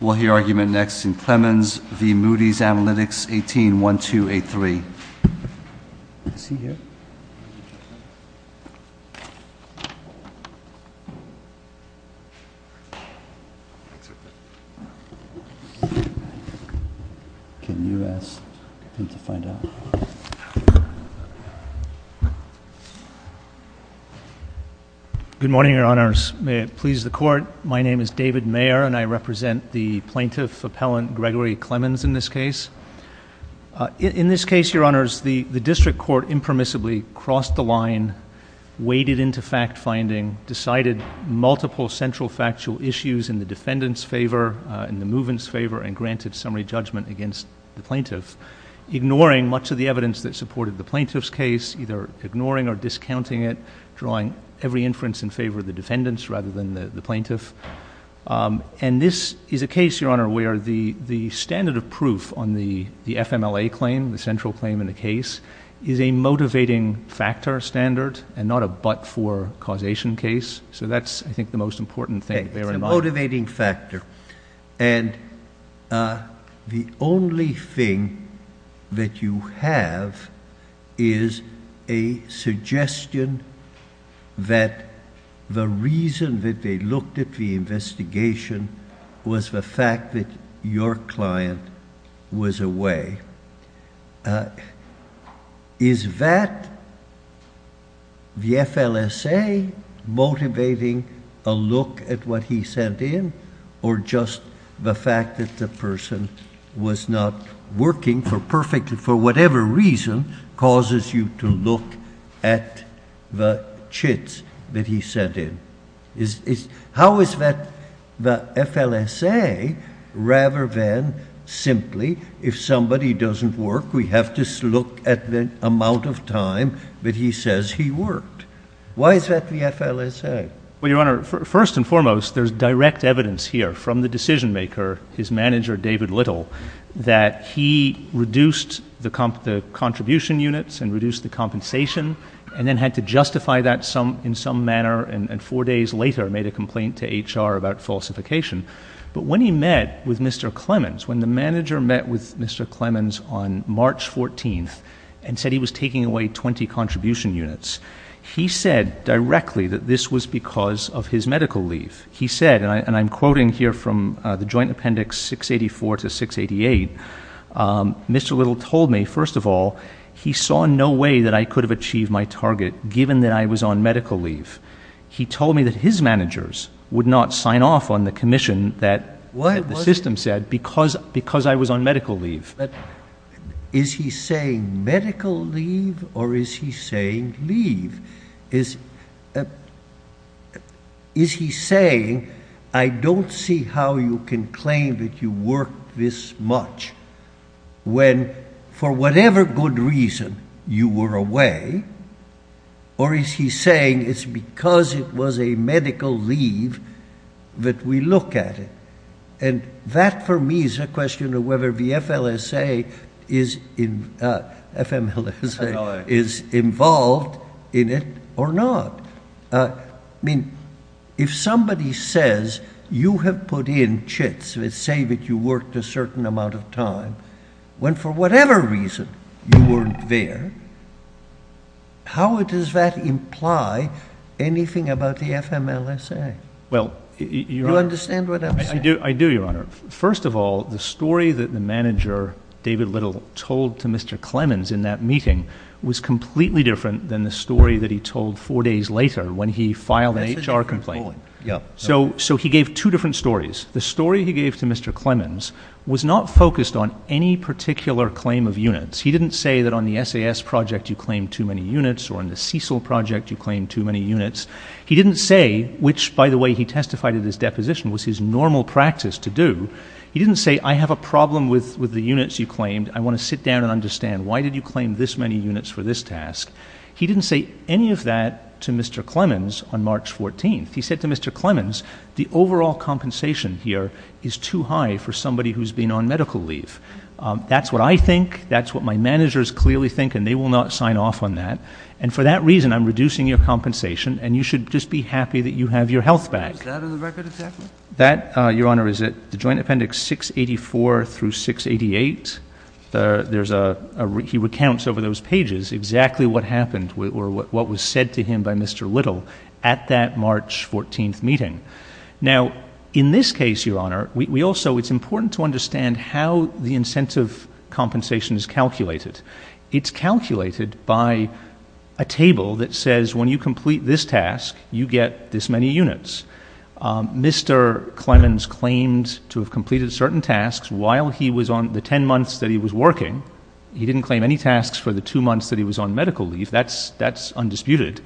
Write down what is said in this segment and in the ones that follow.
We'll hear argument next in Clemens v. Moody's Analytics, 18-1283. Is he here? Can you ask him to find out? Good morning, Your Honors. May it please the Court, my name is David Mayer, and I represent the Plaintiff Appellant Gregory Clemens in this case. In this case, Your Honors, the District Court impermissibly crossed the line, waded into fact-finding, decided multiple central factual issues in the defendant's favor, in the movement's favor, and granted summary judgment against the Plaintiff. Ignoring much of the evidence that supported the Plaintiff's case, either ignoring or discounting it, drawing every inference in favor of the defendant's rather than the Plaintiff. And this is a case, Your Honor, where the standard of proof on the FMLA claim, the central claim in the case, is a motivating factor standard and not a but-for causation case. So that's, I think, the most important thing to bear in mind. It's a motivating factor, and the only thing that you have is a suggestion that the reason that they looked at the investigation was the fact that your client was away. Is that the FLSA motivating a look at what he sent in, or just the fact that the person was not working for whatever reason causes you to look at the chits that he sent in? How is that the FLSA, rather than simply, if somebody doesn't work, we have to look at the amount of time that he says he worked? Why is that the FLSA? Well, Your Honor, first and foremost, there's direct evidence here from the decision-maker, his manager, David Little, that he reduced the contribution units and reduced the compensation, and then had to justify that in some manner, and four days later made a complaint to HR about falsification. But when he met with Mr. Clemens, when the manager met with Mr. Clemens on March 14th and said he was taking away 20 contribution units, he said directly that this was because of his medical leave. He said, and I'm quoting here from the Joint Appendix 684 to 688, Mr. Little told me, first of all, he saw no way that I could have achieved my target, given that I was on medical leave. He told me that his managers would not sign off on the commission that the system said because I was on medical leave. But is he saying medical leave or is he saying leave? Is he saying, I don't see how you can claim that you worked this much when, for whatever good reason, you were away, or is he saying it's because it was a medical leave that we look at it? And that, for me, is a question of whether the FMLSA is involved in it or not. I mean, if somebody says you have put in chits that say that you worked a certain amount of time when, for whatever reason, you weren't there, how does that imply anything about the FMLSA? Do you understand what I'm saying? I do, Your Honor. First of all, the story that the manager, David Little, told to Mr. Clemens in that meeting was completely different than the story that he told four days later when he filed an HR complaint. So he gave two different stories. The story he gave to Mr. Clemens was not focused on any particular claim of units. He didn't say that on the SAS project you claimed too many units or on the CECL project you claimed too many units. He didn't say, which, by the way, he testified in his deposition was his normal practice to do. He didn't say, I have a problem with the units you claimed. I want to sit down and understand, why did you claim this many units for this task? He didn't say any of that to Mr. Clemens on March 14th. He said to Mr. Clemens, the overall compensation here is too high for somebody who's been on medical leave. That's what I think. That's what my managers clearly think, and they will not sign off on that. And for that reason, I'm reducing your compensation, and you should just be happy that you have your health back. Is that on the record exactly? That, Your Honor, is at the Joint Appendix 684 through 688. He recounts over those pages exactly what happened or what was said to him by Mr. Little at that March 14th meeting. Now, in this case, Your Honor, it's important to understand how the incentive compensation is calculated. It's calculated by a table that says, when you complete this task, you get this many units. Mr. Clemens claimed to have completed certain tasks while he was on the ten months that he was working. He didn't claim any tasks for the two months that he was on medical leave. That's undisputed.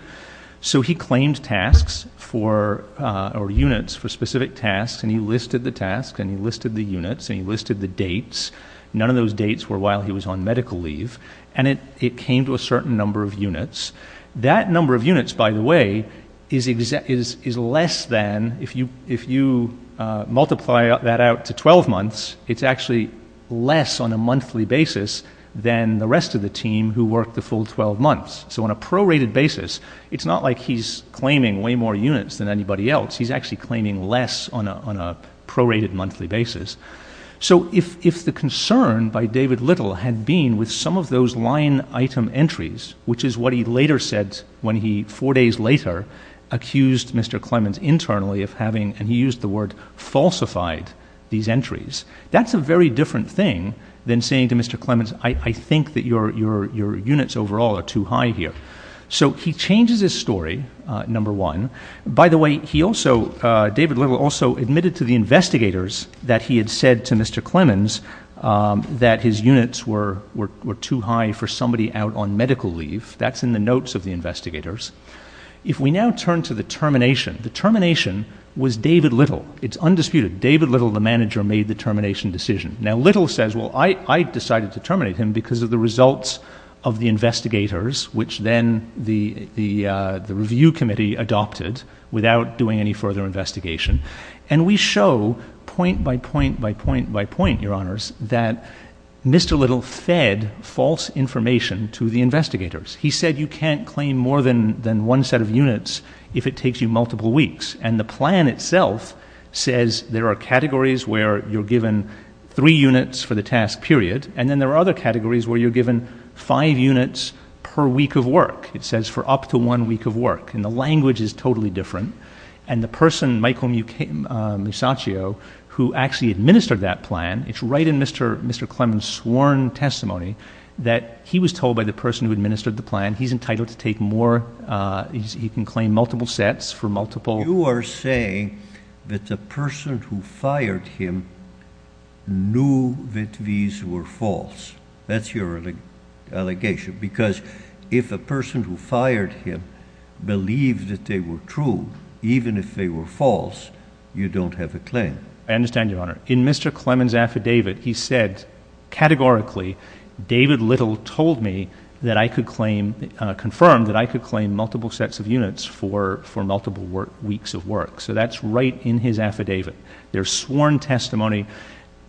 So he claimed tasks or units for specific tasks, and he listed the tasks, and he listed the units, and he listed the dates. None of those dates were while he was on medical leave, and it came to a certain number of units. That number of units, by the way, is less than if you multiply that out to 12 months, it's actually less on a monthly basis than the rest of the team who worked the full 12 months. So on a prorated basis, it's not like he's claiming way more units than anybody else. He's actually claiming less on a prorated monthly basis. So if the concern by David Little had been with some of those line item entries, which is what he later said when he, four days later, accused Mr. Clemens internally of having, and he used the word, falsified these entries, that's a very different thing than saying to Mr. Clemens, I think that your units overall are too high here. So he changes his story, number one. By the way, he also, David Little also admitted to the investigators that he had said to Mr. Clemens that his units were too high for somebody out on medical leave. That's in the notes of the investigators. If we now turn to the termination, the termination was David Little. It's undisputed. David Little, the manager, made the termination decision. Now, Little says, well, I decided to terminate him because of the results of the investigators, which then the review committee adopted without doing any further investigation. And we show point by point by point by point, Your Honors, that Mr. Little fed false information to the investigators. He said you can't claim more than one set of units if it takes you multiple weeks. And the plan itself says there are categories where you're given three units for the task period, and then there are other categories where you're given five units per week of work. It says for up to one week of work. And the language is totally different. And the person, Michael Musacchio, who actually administered that plan, it's right in Mr. Clemens' sworn testimony that he was told by the person who administered the plan, he's entitled to take more, he can claim multiple sets for multiple. You are saying that the person who fired him knew that these were false. That's your allegation because if a person who fired him believed that they were true, even if they were false, you don't have a claim. I understand, Your Honor. In Mr. Clemens' affidavit, he said categorically, David Little told me that I could claim, confirmed that I could claim multiple sets of units for multiple weeks of work. So that's right in his affidavit. There's sworn testimony.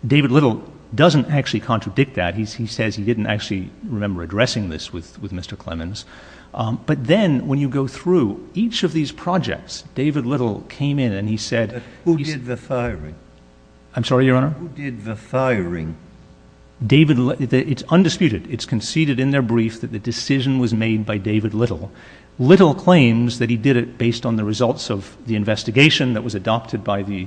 David Little doesn't actually contradict that. He says he didn't actually remember addressing this with Mr. Clemens. But then when you go through each of these projects, David Little came in and he said he's — Who did the firing? I'm sorry, Your Honor? Who did the firing? David — it's undisputed. It's conceded in their brief that the decision was made by David Little. Little claims that he did it based on the results of the investigation that was adopted by the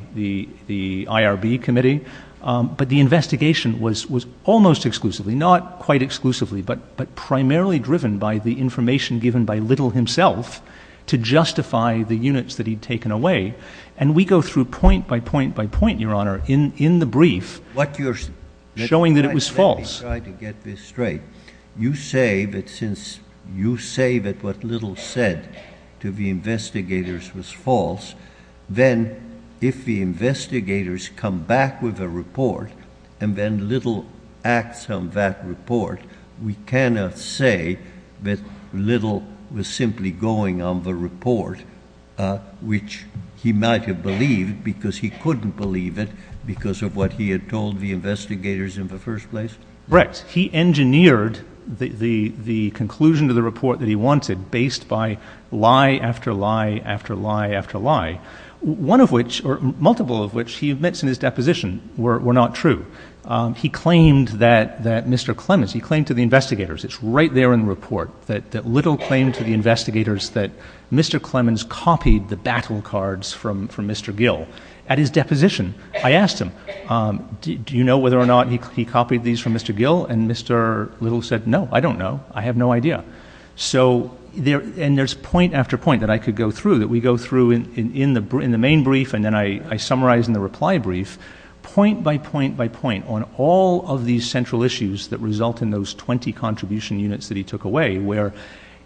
IRB committee. But the investigation was almost exclusively, not quite exclusively, but primarily driven by the information given by Little himself to justify the units that he'd taken away. And we go through point by point by point, Your Honor, in the brief. What you're — Showing that it was false. Let me try to get this straight. You say that since you say that what Little said to the investigators was false, then if the investigators come back with a report and then Little acts on that report, we cannot say that Little was simply going on the report, which he might have believed because he couldn't believe it because of what he had told the investigators in the first place? Correct. He engineered the conclusion to the report that he wanted based by lie after lie after lie after lie, one of which — or multiple of which he admits in his deposition were not true. He claimed that Mr. Clemens — he claimed to the investigators, it's right there in the report, that Little claimed to the investigators that Mr. Clemens copied the battle cards from Mr. Gill at his deposition. I asked him, do you know whether or not he copied these from Mr. Gill? And Mr. Little said, no, I don't know. I have no idea. So there — and there's point after point that I could go through, that we go through in the main brief, and then I summarize in the reply brief. Point by point by point on all of these central issues that result in those 20 contribution units that he took away, where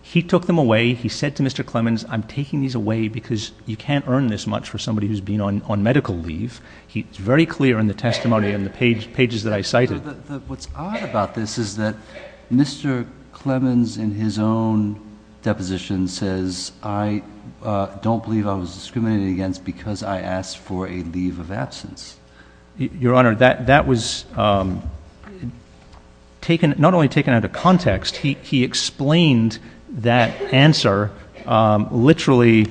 he took them away, he said to Mr. Clemens, I'm taking these away because you can't earn this much for somebody who's been on medical leave. He's very clear in the testimony and the pages that I cited. What's odd about this is that Mr. Clemens in his own deposition says, I don't believe I was discriminated against because I asked for a leave of absence. Your Honor, that was taken — not only taken out of context, he explained that answer literally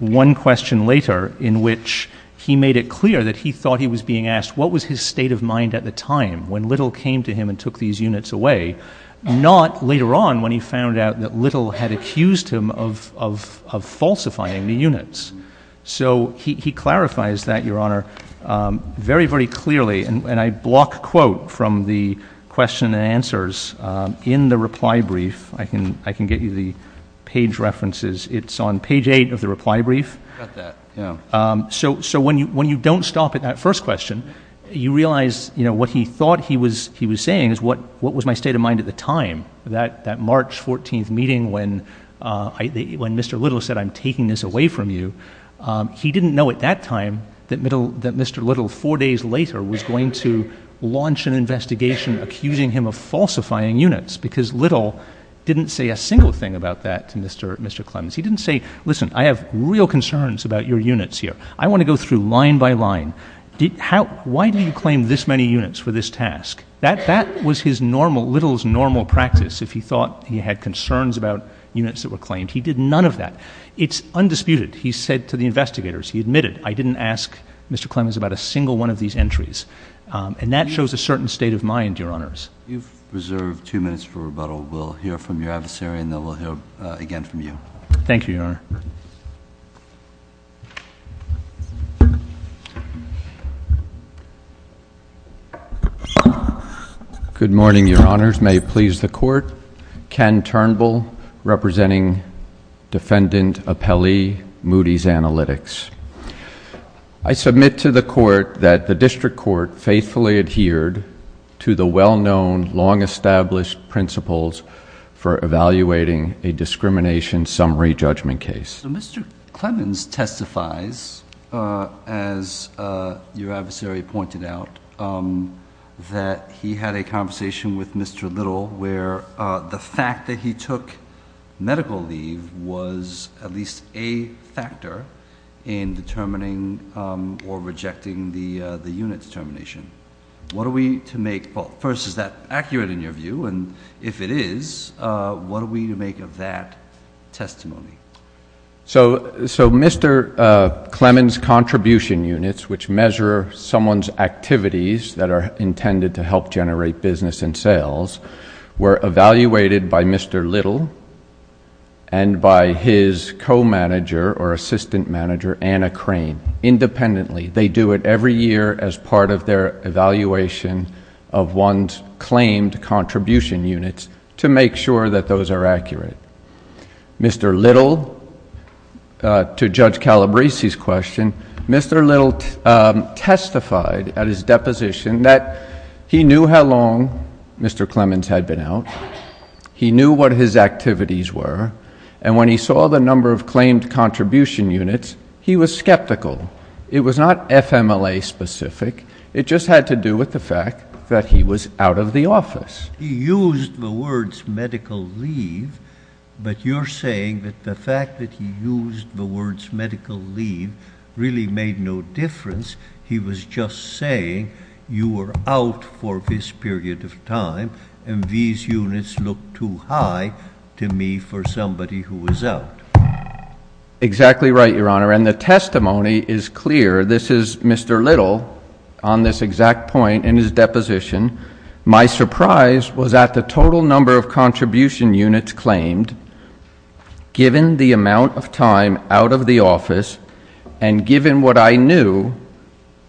one question later, in which he made it clear that he thought he was being asked what was his state of mind at the time when Little came to him and took these units away, not later on when he found out that Little had accused him of falsifying the units. So he clarifies that, Your Honor, very, very clearly. And I block quote from the question and answers in the reply brief. I can get you the page references. It's on page eight of the reply brief. So when you don't stop at that first question, you realize what he thought he was saying is what was my state of mind at the time, that March 14th meeting when Mr. Little said, I'm taking this away from you. He didn't know at that time that Mr. Little, four days later, was going to launch an investigation accusing him of falsifying units because Little didn't say a single thing about that to Mr. Clemens. He didn't say, listen, I have real concerns about your units here. I want to go through line by line. Why do you claim this many units for this task? That was Little's normal practice if he thought he had concerns about units that were claimed. He did none of that. It's undisputed. He said to the investigators, he admitted, I didn't ask Mr. Clemens about a single one of these entries. And that shows a certain state of mind, Your Honors. You've reserved two minutes for rebuttal. We'll hear from your adversary, and then we'll hear again from you. Thank you, Your Honor. Good morning, Your Honors. May it please the Court. Ken Turnbull, representing Defendant Appellee Moody's Analytics. I submit to the Court that the District Court faithfully adhered to the well-known, long-established principles for evaluating a discrimination summary judgment case. Mr. Clemens testifies, as your adversary pointed out, that he had a conversation with Mr. Little where the fact that he took medical leave was at least a factor in determining or rejecting the unit determination. What are we to make? Well, first, is that accurate in your view? And if it is, what are we to make of that testimony? So Mr. Clemens' contribution units, which measure someone's activities that are intended to help generate business and sales, were evaluated by Mr. Little and by his co-manager or assistant manager, Anna Crane, independently. They do it every year as part of their evaluation of one's claimed contribution units to make sure that those are accurate. Mr. Little, to Judge Calabresi's question, Mr. Little testified at his deposition that he knew how long Mr. Clemens had been out, he knew what his activities were, and when he saw the number of claimed contribution units, he was skeptical. It was not FMLA specific. It just had to do with the fact that he was out of the office. He used the words medical leave, but you're saying that the fact that he used the words medical leave really made no difference. He was just saying you were out for this period of time, and these units look too high to me for somebody who was out. Exactly right, Your Honor, and the testimony is clear. This is Mr. Little on this exact point in his deposition. My surprise was at the total number of contribution units claimed given the amount of time out of the office and given what I knew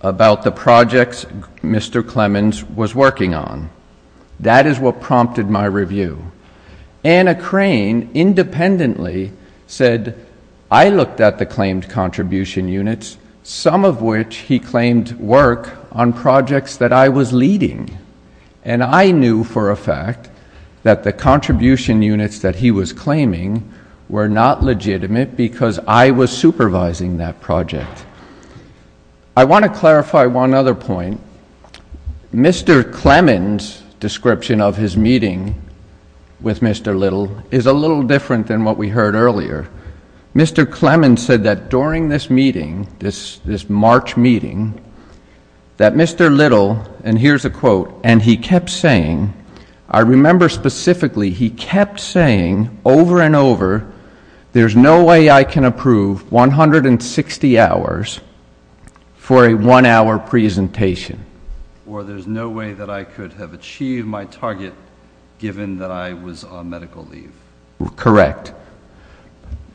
about the projects Mr. Clemens was working on. That is what prompted my review. Anna Crane independently said I looked at the claimed contribution units, some of which he claimed work on projects that I was leading, and I knew for a fact that the contribution units that he was claiming were not legitimate because I was supervising that project. I want to clarify one other point. Mr. Clemens' description of his meeting with Mr. Little is a little different than what we heard earlier. Mr. Clemens said that during this meeting, this March meeting, that Mr. Little, and here's a quote, and he kept saying, I remember specifically, he kept saying over and over, there's no way I can approve 160 hours for a one-hour presentation. Or there's no way that I could have achieved my target given that I was on medical leave. Correct.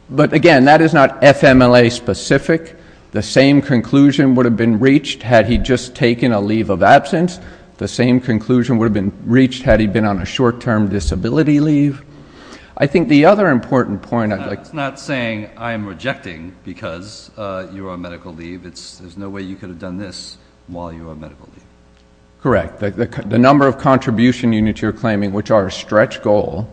But, again, that is not FMLA-specific. The same conclusion would have been reached had he just taken a leave of absence. The same conclusion would have been reached had he been on a short-term disability leave. I think the other important point I'd like to make. That's not saying I'm rejecting because you are on medical leave. There's no way you could have done this while you were on medical leave. Correct. The number of contribution units you're claiming, which are a stretch goal,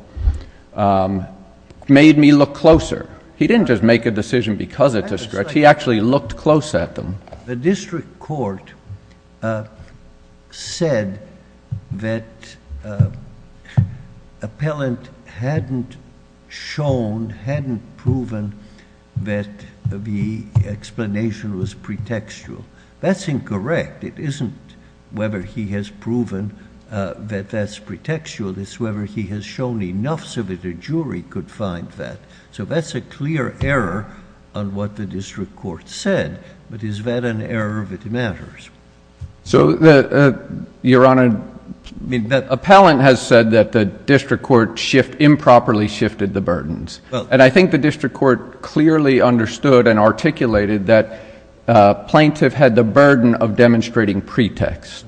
made me look closer. He didn't just make a decision because it's a stretch. He actually looked close at them. The district court said that appellant hadn't shown, hadn't proven that the explanation was pretextual. That's incorrect. It isn't whether he has proven that that's pretextual. It's whether he has shown enough so that a jury could find that. So that's a clear error on what the district court said. But is that an error that matters? Your Honor, appellant has said that the district court improperly shifted the burdens. And I think the district court clearly understood and articulated that plaintiff had the burden of demonstrating pretext.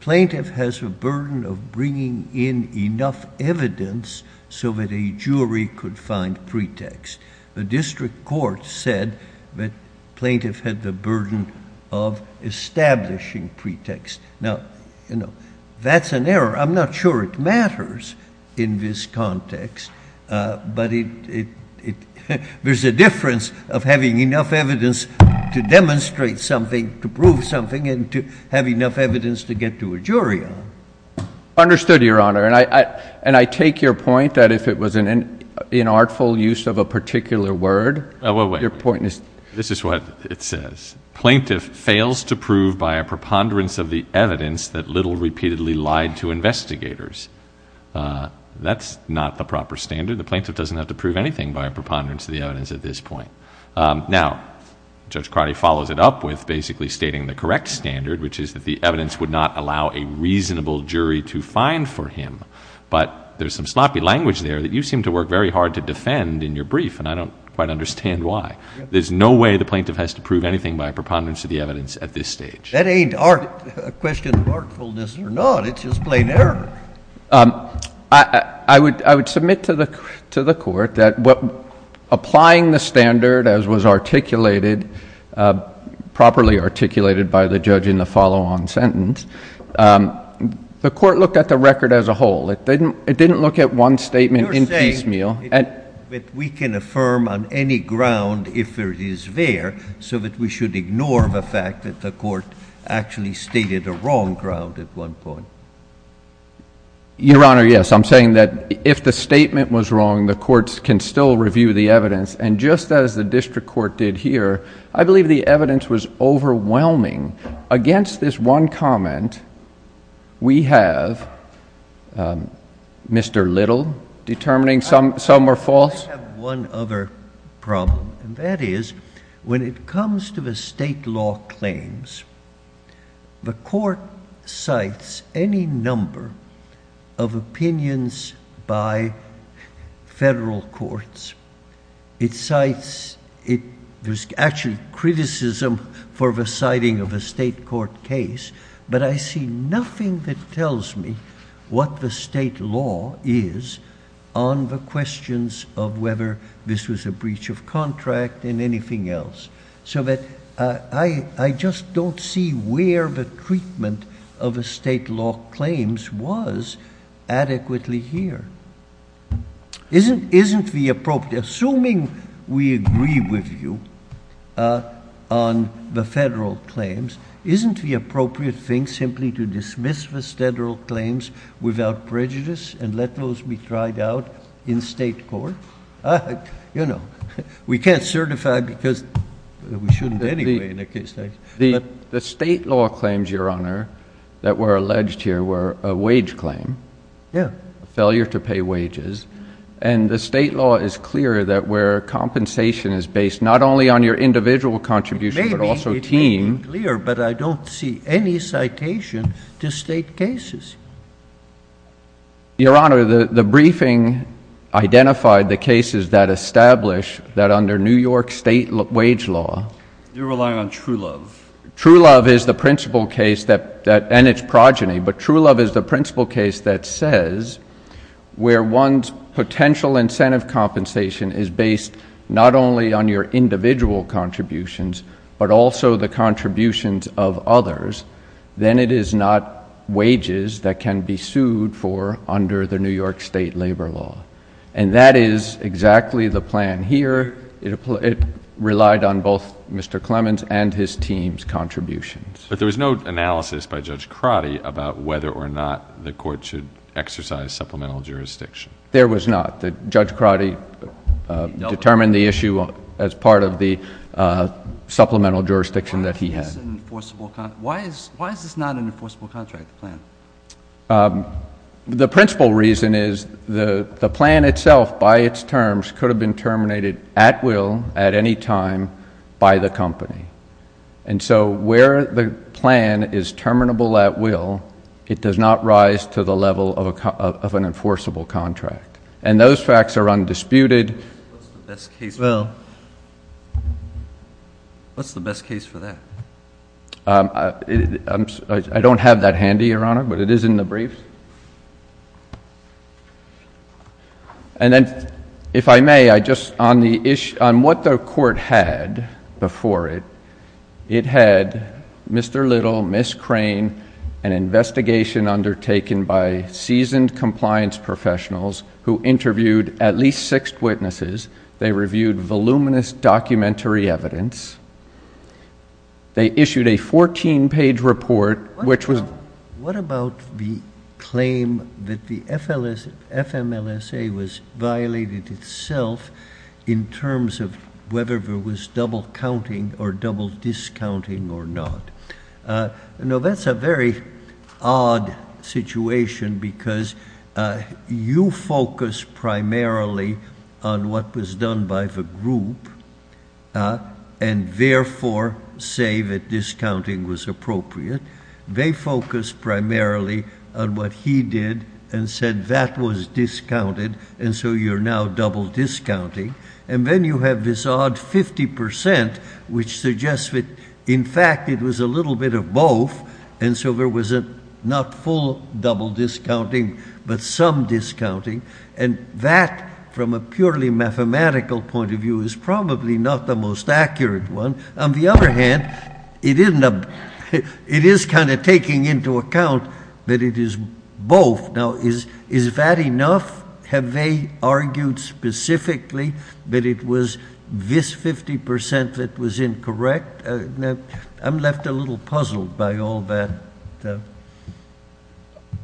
Plaintiff has a burden of bringing in enough evidence so that a jury could find pretext. The district court said that plaintiff had the burden of establishing pretext. Now, that's an error. I'm not sure it matters in this context, but there's a difference of having enough evidence to demonstrate something, to prove something, and to have enough evidence to get to a jury on. Understood, Your Honor. And I take your point that if it was an inartful use of a particular word, your point is? This is what it says. Plaintiff fails to prove by a preponderance of the evidence that Little repeatedly lied to investigators. That's not the proper standard. The plaintiff doesn't have to prove anything by a preponderance of the evidence at this point. Now, Judge Cardi follows it up with basically stating the correct standard, which is that the evidence would not allow a reasonable jury to find for him. But there's some sloppy language there that you seem to work very hard to defend in your brief, and I don't quite understand why. There's no way the plaintiff has to prove anything by a preponderance of the evidence at this stage. That ain't a question of artfulness or not. It's just plain error. I would submit to the Court that applying the standard as was articulated, properly articulated by the judge in the follow-on sentence, the Court looked at the record as a whole. It didn't look at one statement in piecemeal. But we can affirm on any ground if it is there, so that we should ignore the fact that the Court actually stated a wrong ground at one point. Your Honor, yes. I'm saying that if the statement was wrong, the courts can still review the evidence. And just as the district court did here, I believe the evidence was overwhelming. Against this one comment, we have Mr. Little determining some were false. I have one other problem, and that is when it comes to the state law claims, the Court cites any number of opinions by federal courts. There's actually criticism for the citing of a state court case, but I see nothing that tells me what the state law is on the questions of whether this was a breach of contract and anything else, so that I just don't see where the treatment of the state law claims was adequately here. Isn't the appropriate, assuming we agree with you on the federal claims, isn't the appropriate thing simply to dismiss the federal claims without prejudice and let those be tried out in state court? You know, we can't certify because we shouldn't anyway in that case. The state law claims, Your Honor, that were alleged here were a wage claim, a failure to pay wages, and the state law is clear that where compensation is based not only on your individual contribution but also team. It may be clear, but I don't see any citation to state cases. Your Honor, the briefing identified the cases that establish that under New York state wage law. You're relying on True Love. True Love is the principle case that, and it's progeny, but True Love is the principle case that says where one's potential incentive compensation is based not only on your individual contributions, but also the contributions of others. Then it is not wages that can be sued for under the New York state labor law, and that is exactly the plan here. It relied on both Mr. Clemens and his team's contributions. But there was no analysis by Judge Crotty about whether or not the court should exercise supplemental jurisdiction. There was not. Judge Crotty determined the issue as part of the supplemental jurisdiction that he had. Why is this not an enforceable contract plan? The principle reason is the plan itself by its terms could have been terminated at will at any time by the company. And so where the plan is terminable at will, it does not rise to the level of an enforceable contract. And those facts are undisputed. What's the best case for that? I don't have that handy, Your Honor, but it is in the briefs. And then, if I may, on what the court had before it, it had Mr. Little, Miss Crane, an investigation undertaken by seasoned compliance professionals who interviewed at least six witnesses. They reviewed voluminous documentary evidence. They issued a 14-page report which was What about the claim that the FMLSA was violated itself in terms of whether there was double counting or double discounting or not? No, that's a very odd situation because you focus primarily on what was done by the group and therefore say that discounting was appropriate. They focus primarily on what he did and said that was discounted. And so you're now double discounting. And then you have this odd 50% which suggests that, in fact, it was a little bit of both. And so there was not full double discounting but some discounting. And that, from a purely mathematical point of view, is probably not the most accurate one. On the other hand, it is kind of taking into account that it is both. Now, is that enough? Have they argued specifically that it was this 50% that was incorrect? I'm left a little puzzled by all that.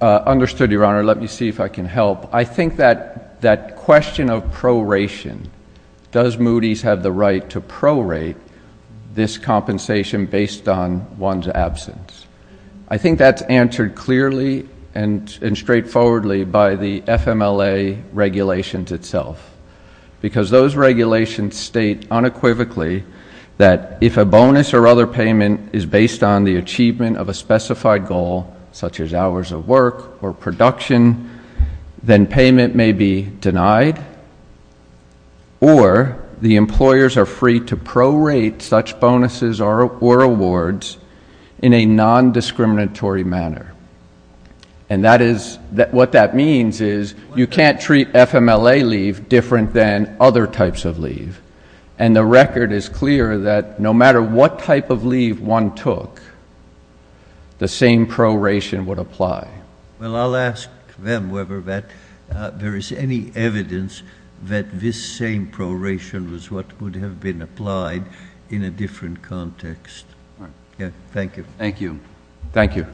Understood, Your Honor. Let me see if I can help. I think that that question of proration, does Moody's have the right to prorate this compensation based on one's absence? I think that's answered clearly and straightforwardly by the FMLA regulations itself because those regulations state unequivocally that if a bonus or other payment is based on the achievement of a specified goal, such as hours of work or production, then payment may be denied or the employers are free to prorate such bonuses or awards in a nondiscriminatory manner. And what that means is you can't treat FMLA leave different than other types of leave. And the record is clear that no matter what type of leave one took, the same proration would apply. Well, I'll ask them whether that there is any evidence that this same proration was what would have been applied in a different context. Thank you. Thank you. Thank you.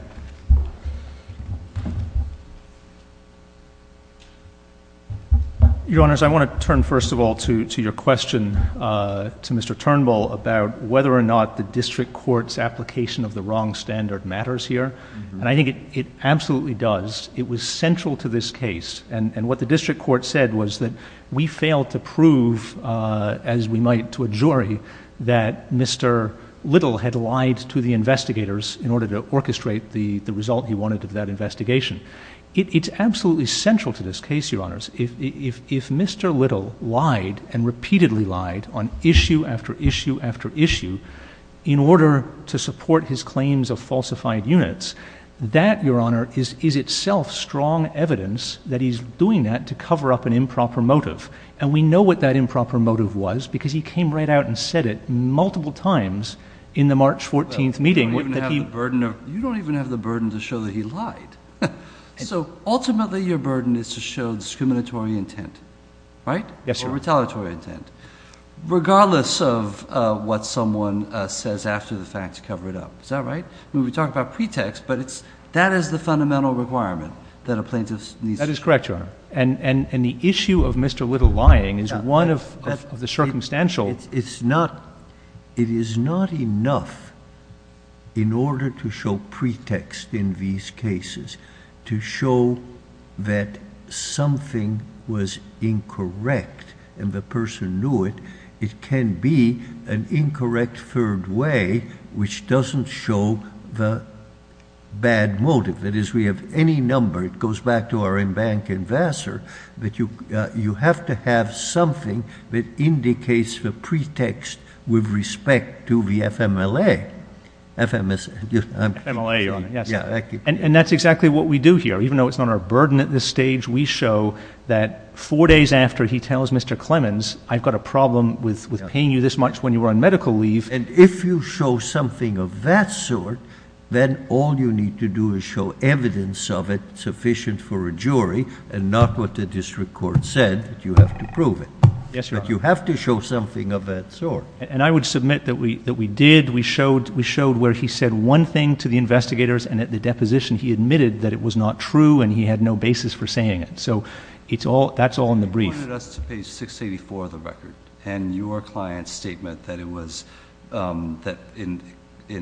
Your Honors, I want to turn first of all to your question to Mr. Turnbull about whether or not the district court's application of the wrong standard matters here. And I think it absolutely does. It was central to this case. And what the district court said was that we failed to prove, as we might to a jury, that Mr. Little had lied to the investigators in order to orchestrate the result he wanted of that investigation. It's absolutely central to this case, Your Honors. If Mr. Little lied and repeatedly lied on issue after issue after issue in order to support his claims of falsified units, that, Your Honor, is itself strong evidence that he's doing that to cover up an improper motive. And we know what that improper motive was because he came right out and said it multiple times in the March 14th meeting. You don't even have the burden to show that he lied. So ultimately your burden is to show discriminatory intent, right? Yes, Your Honor. Or retaliatory intent, regardless of what someone says after the fact to cover it up. Is that right? I mean, we talk about pretext, but that is the fundamental requirement that a plaintiff needs to show. That is correct, Your Honor. And the issue of Mr. Little lying is one of the circumstantial. It is not enough in order to show pretext in these cases to show that something was incorrect and the person knew it. It can be an incorrect third way which doesn't show the bad motive. That is, we have any number. It goes back to our embankment in Vassar that you have to have something that indicates the pretext with respect to the FMLA. FMLA, Your Honor. And that's exactly what we do here. Even though it's not our burden at this stage, we show that four days after he tells Mr. Clemens, I've got a problem with paying you this much when you were on medical leave. And if you show something of that sort, then all you need to do is show evidence of it sufficient for a jury and not what the district court said that you have to prove it. Yes, Your Honor. But you have to show something of that sort. And I would submit that we did. We showed where he said one thing to the investigators, and at the deposition, he admitted that it was not true and he had no basis for saying it. So that's all in the brief. You wanted us to page 684 of the record and your client's statement that in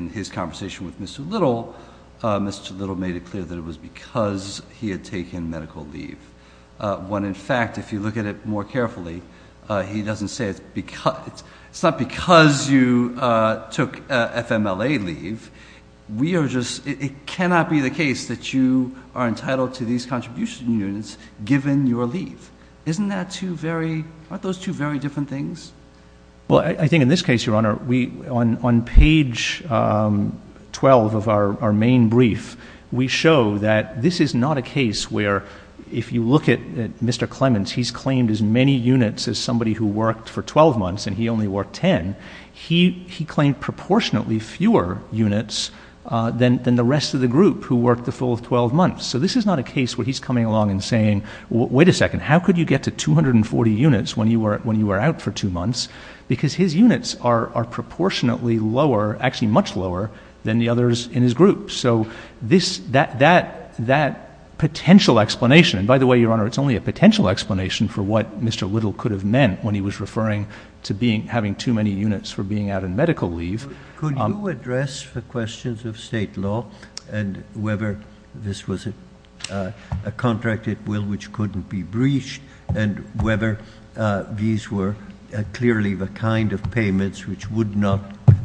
his conversation with Mr. Little, Mr. Little made it clear that it was because he had taken medical leave. When, in fact, if you look at it more carefully, he doesn't say it's because. It's not because you took FMLA leave. It cannot be the case that you are entitled to these contribution units given your leave. Aren't those two very different things? Well, I think in this case, Your Honor, on page 12 of our main brief, we show that this is not a case where if you look at Mr. Clements, he's claimed as many units as somebody who worked for 12 months and he only worked 10. He claimed proportionately fewer units than the rest of the group who worked the full 12 months. So this is not a case where he's coming along and saying, wait a second, how could you get to 240 units when you were out for two months? Because his units are proportionately lower, actually much lower, than the others in his group. So that potential explanation, and by the way, Your Honor, it's only a potential explanation for what Mr. Little could have meant when he was referring to having too many units for being out on medical leave. Could you address the questions of state law and whether this was a contract at will which couldn't be breached and whether these were clearly the kind of payments which would not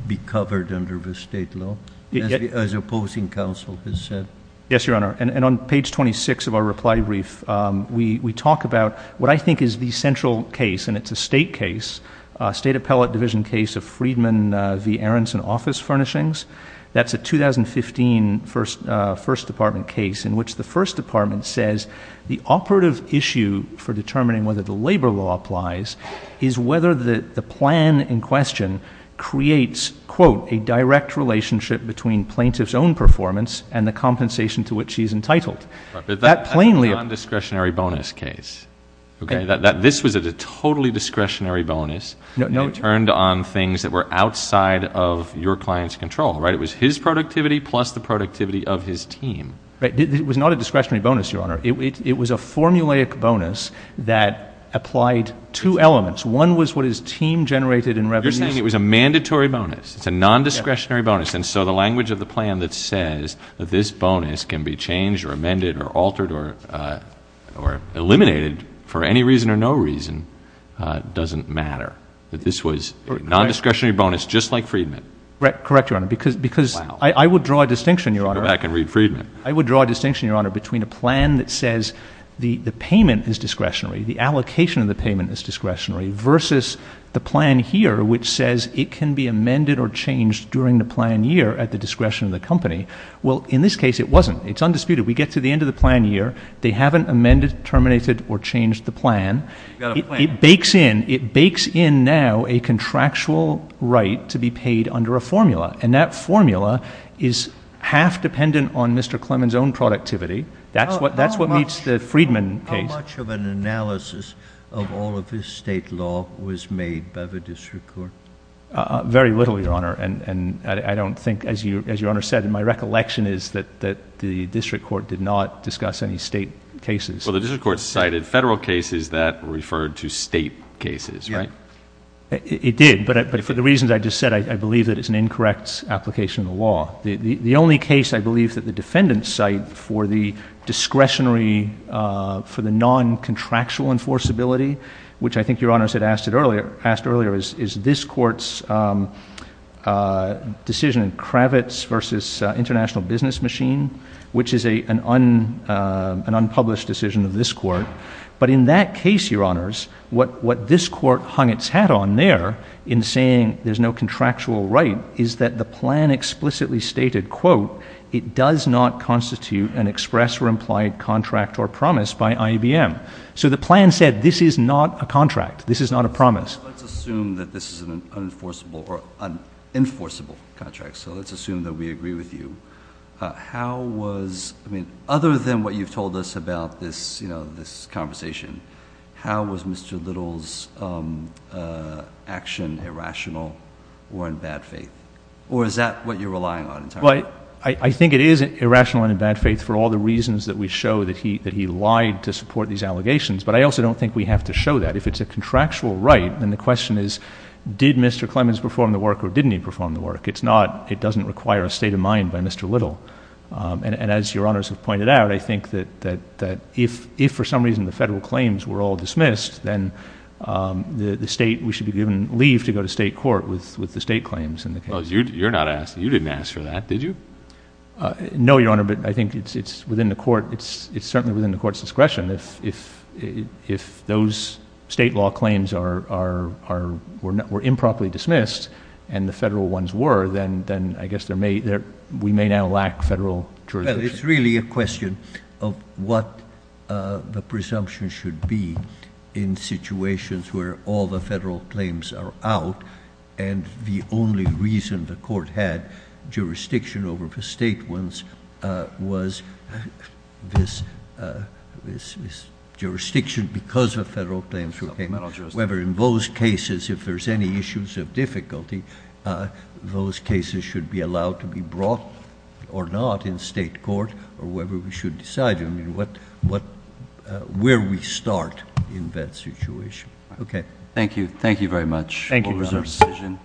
be covered under the state law, as opposing counsel has said? Yes, Your Honor. And on page 26 of our reply brief, we talk about what I think is the central case, and it's a state case, the case of Freedman v. Aronson Office Furnishings. That's a 2015 First Department case in which the First Department says the operative issue for determining whether the labor law applies is whether the plan in question creates, quote, a direct relationship between plaintiff's own performance and the compensation to which she's entitled. That plainly- But that's a non-discretionary bonus case. Okay? This was a totally discretionary bonus. It turned on things that were outside of your client's control, right? It was his productivity plus the productivity of his team. It was not a discretionary bonus, Your Honor. It was a formulaic bonus that applied two elements. One was what his team generated in revenues- You're saying it was a mandatory bonus. It's a non-discretionary bonus. And so the language of the plan that says that this bonus can be changed or amended or altered or eliminated for any reason or no reason doesn't matter, that this was a non-discretionary bonus just like Freedman. Correct, Your Honor, because I would draw a distinction, Your Honor- Go back and read Freedman. I would draw a distinction, Your Honor, between a plan that says the payment is discretionary, the allocation of the payment is discretionary, versus the plan here which says it can be amended or changed during the plan year at the discretion of the company. Well, in this case, it wasn't. It's undisputed. We get to the end of the plan year. They haven't amended, terminated, or changed the plan. It bakes in. It bakes in now a contractual right to be paid under a formula, and that formula is half dependent on Mr. Clement's own productivity. That's what meets the Freedman case. How much of an analysis of all of this state law was made by the district court? Very little, Your Honor, and I don't think, as Your Honor said, my recollection is that the district court did not discuss any state cases. Well, the district court cited federal cases that referred to state cases, right? It did, but for the reasons I just said, I believe that it's an incorrect application of the law. The only case I believe that the defendants cite for the discretionary, for the non-contractual enforceability, which I think Your Honors had asked earlier, is this court's decision in Kravitz versus International Business Machine, which is an unpublished decision of this court, but in that case, Your Honors, what this court hung its hat on there in saying there's no contractual right is that the plan explicitly stated, quote, it does not constitute an express or implied contract or promise by IBM. So the plan said this is not a contract. This is not a promise. Let's assume that this is an enforceable contract, so let's assume that we agree with you. Other than what you've told us about this conversation, how was Mr. Little's action irrational or in bad faith? Or is that what you're relying on? I think it is irrational and in bad faith for all the reasons that we show that he lied to support these allegations, but I also don't think we have to show that. If it's a contractual right, then the question is did Mr. Clemens perform the work or didn't he perform the work? It's not. It doesn't require a state of mind by Mr. Little, and as Your Honors have pointed out, I think that if for some reason the federal claims were all dismissed, then we should be given leave to go to state court with the state claims in the case. You didn't ask for that, did you? No, Your Honor, but I think it's certainly within the court's discretion. If those state law claims were improperly dismissed and the federal ones were, then I guess we may now lack federal jurisdiction. Well, it's really a question of what the presumption should be in situations where all the federal claims are out and the only reason the court had jurisdiction over the state ones was this jurisdiction because of federal claims. Whether in those cases, if there's any issues of difficulty, those cases should be allowed to be brought or not in state court or whether we should decide where we start in that situation. Okay. Thank you. Thank you very much. Thank you, Your Honors.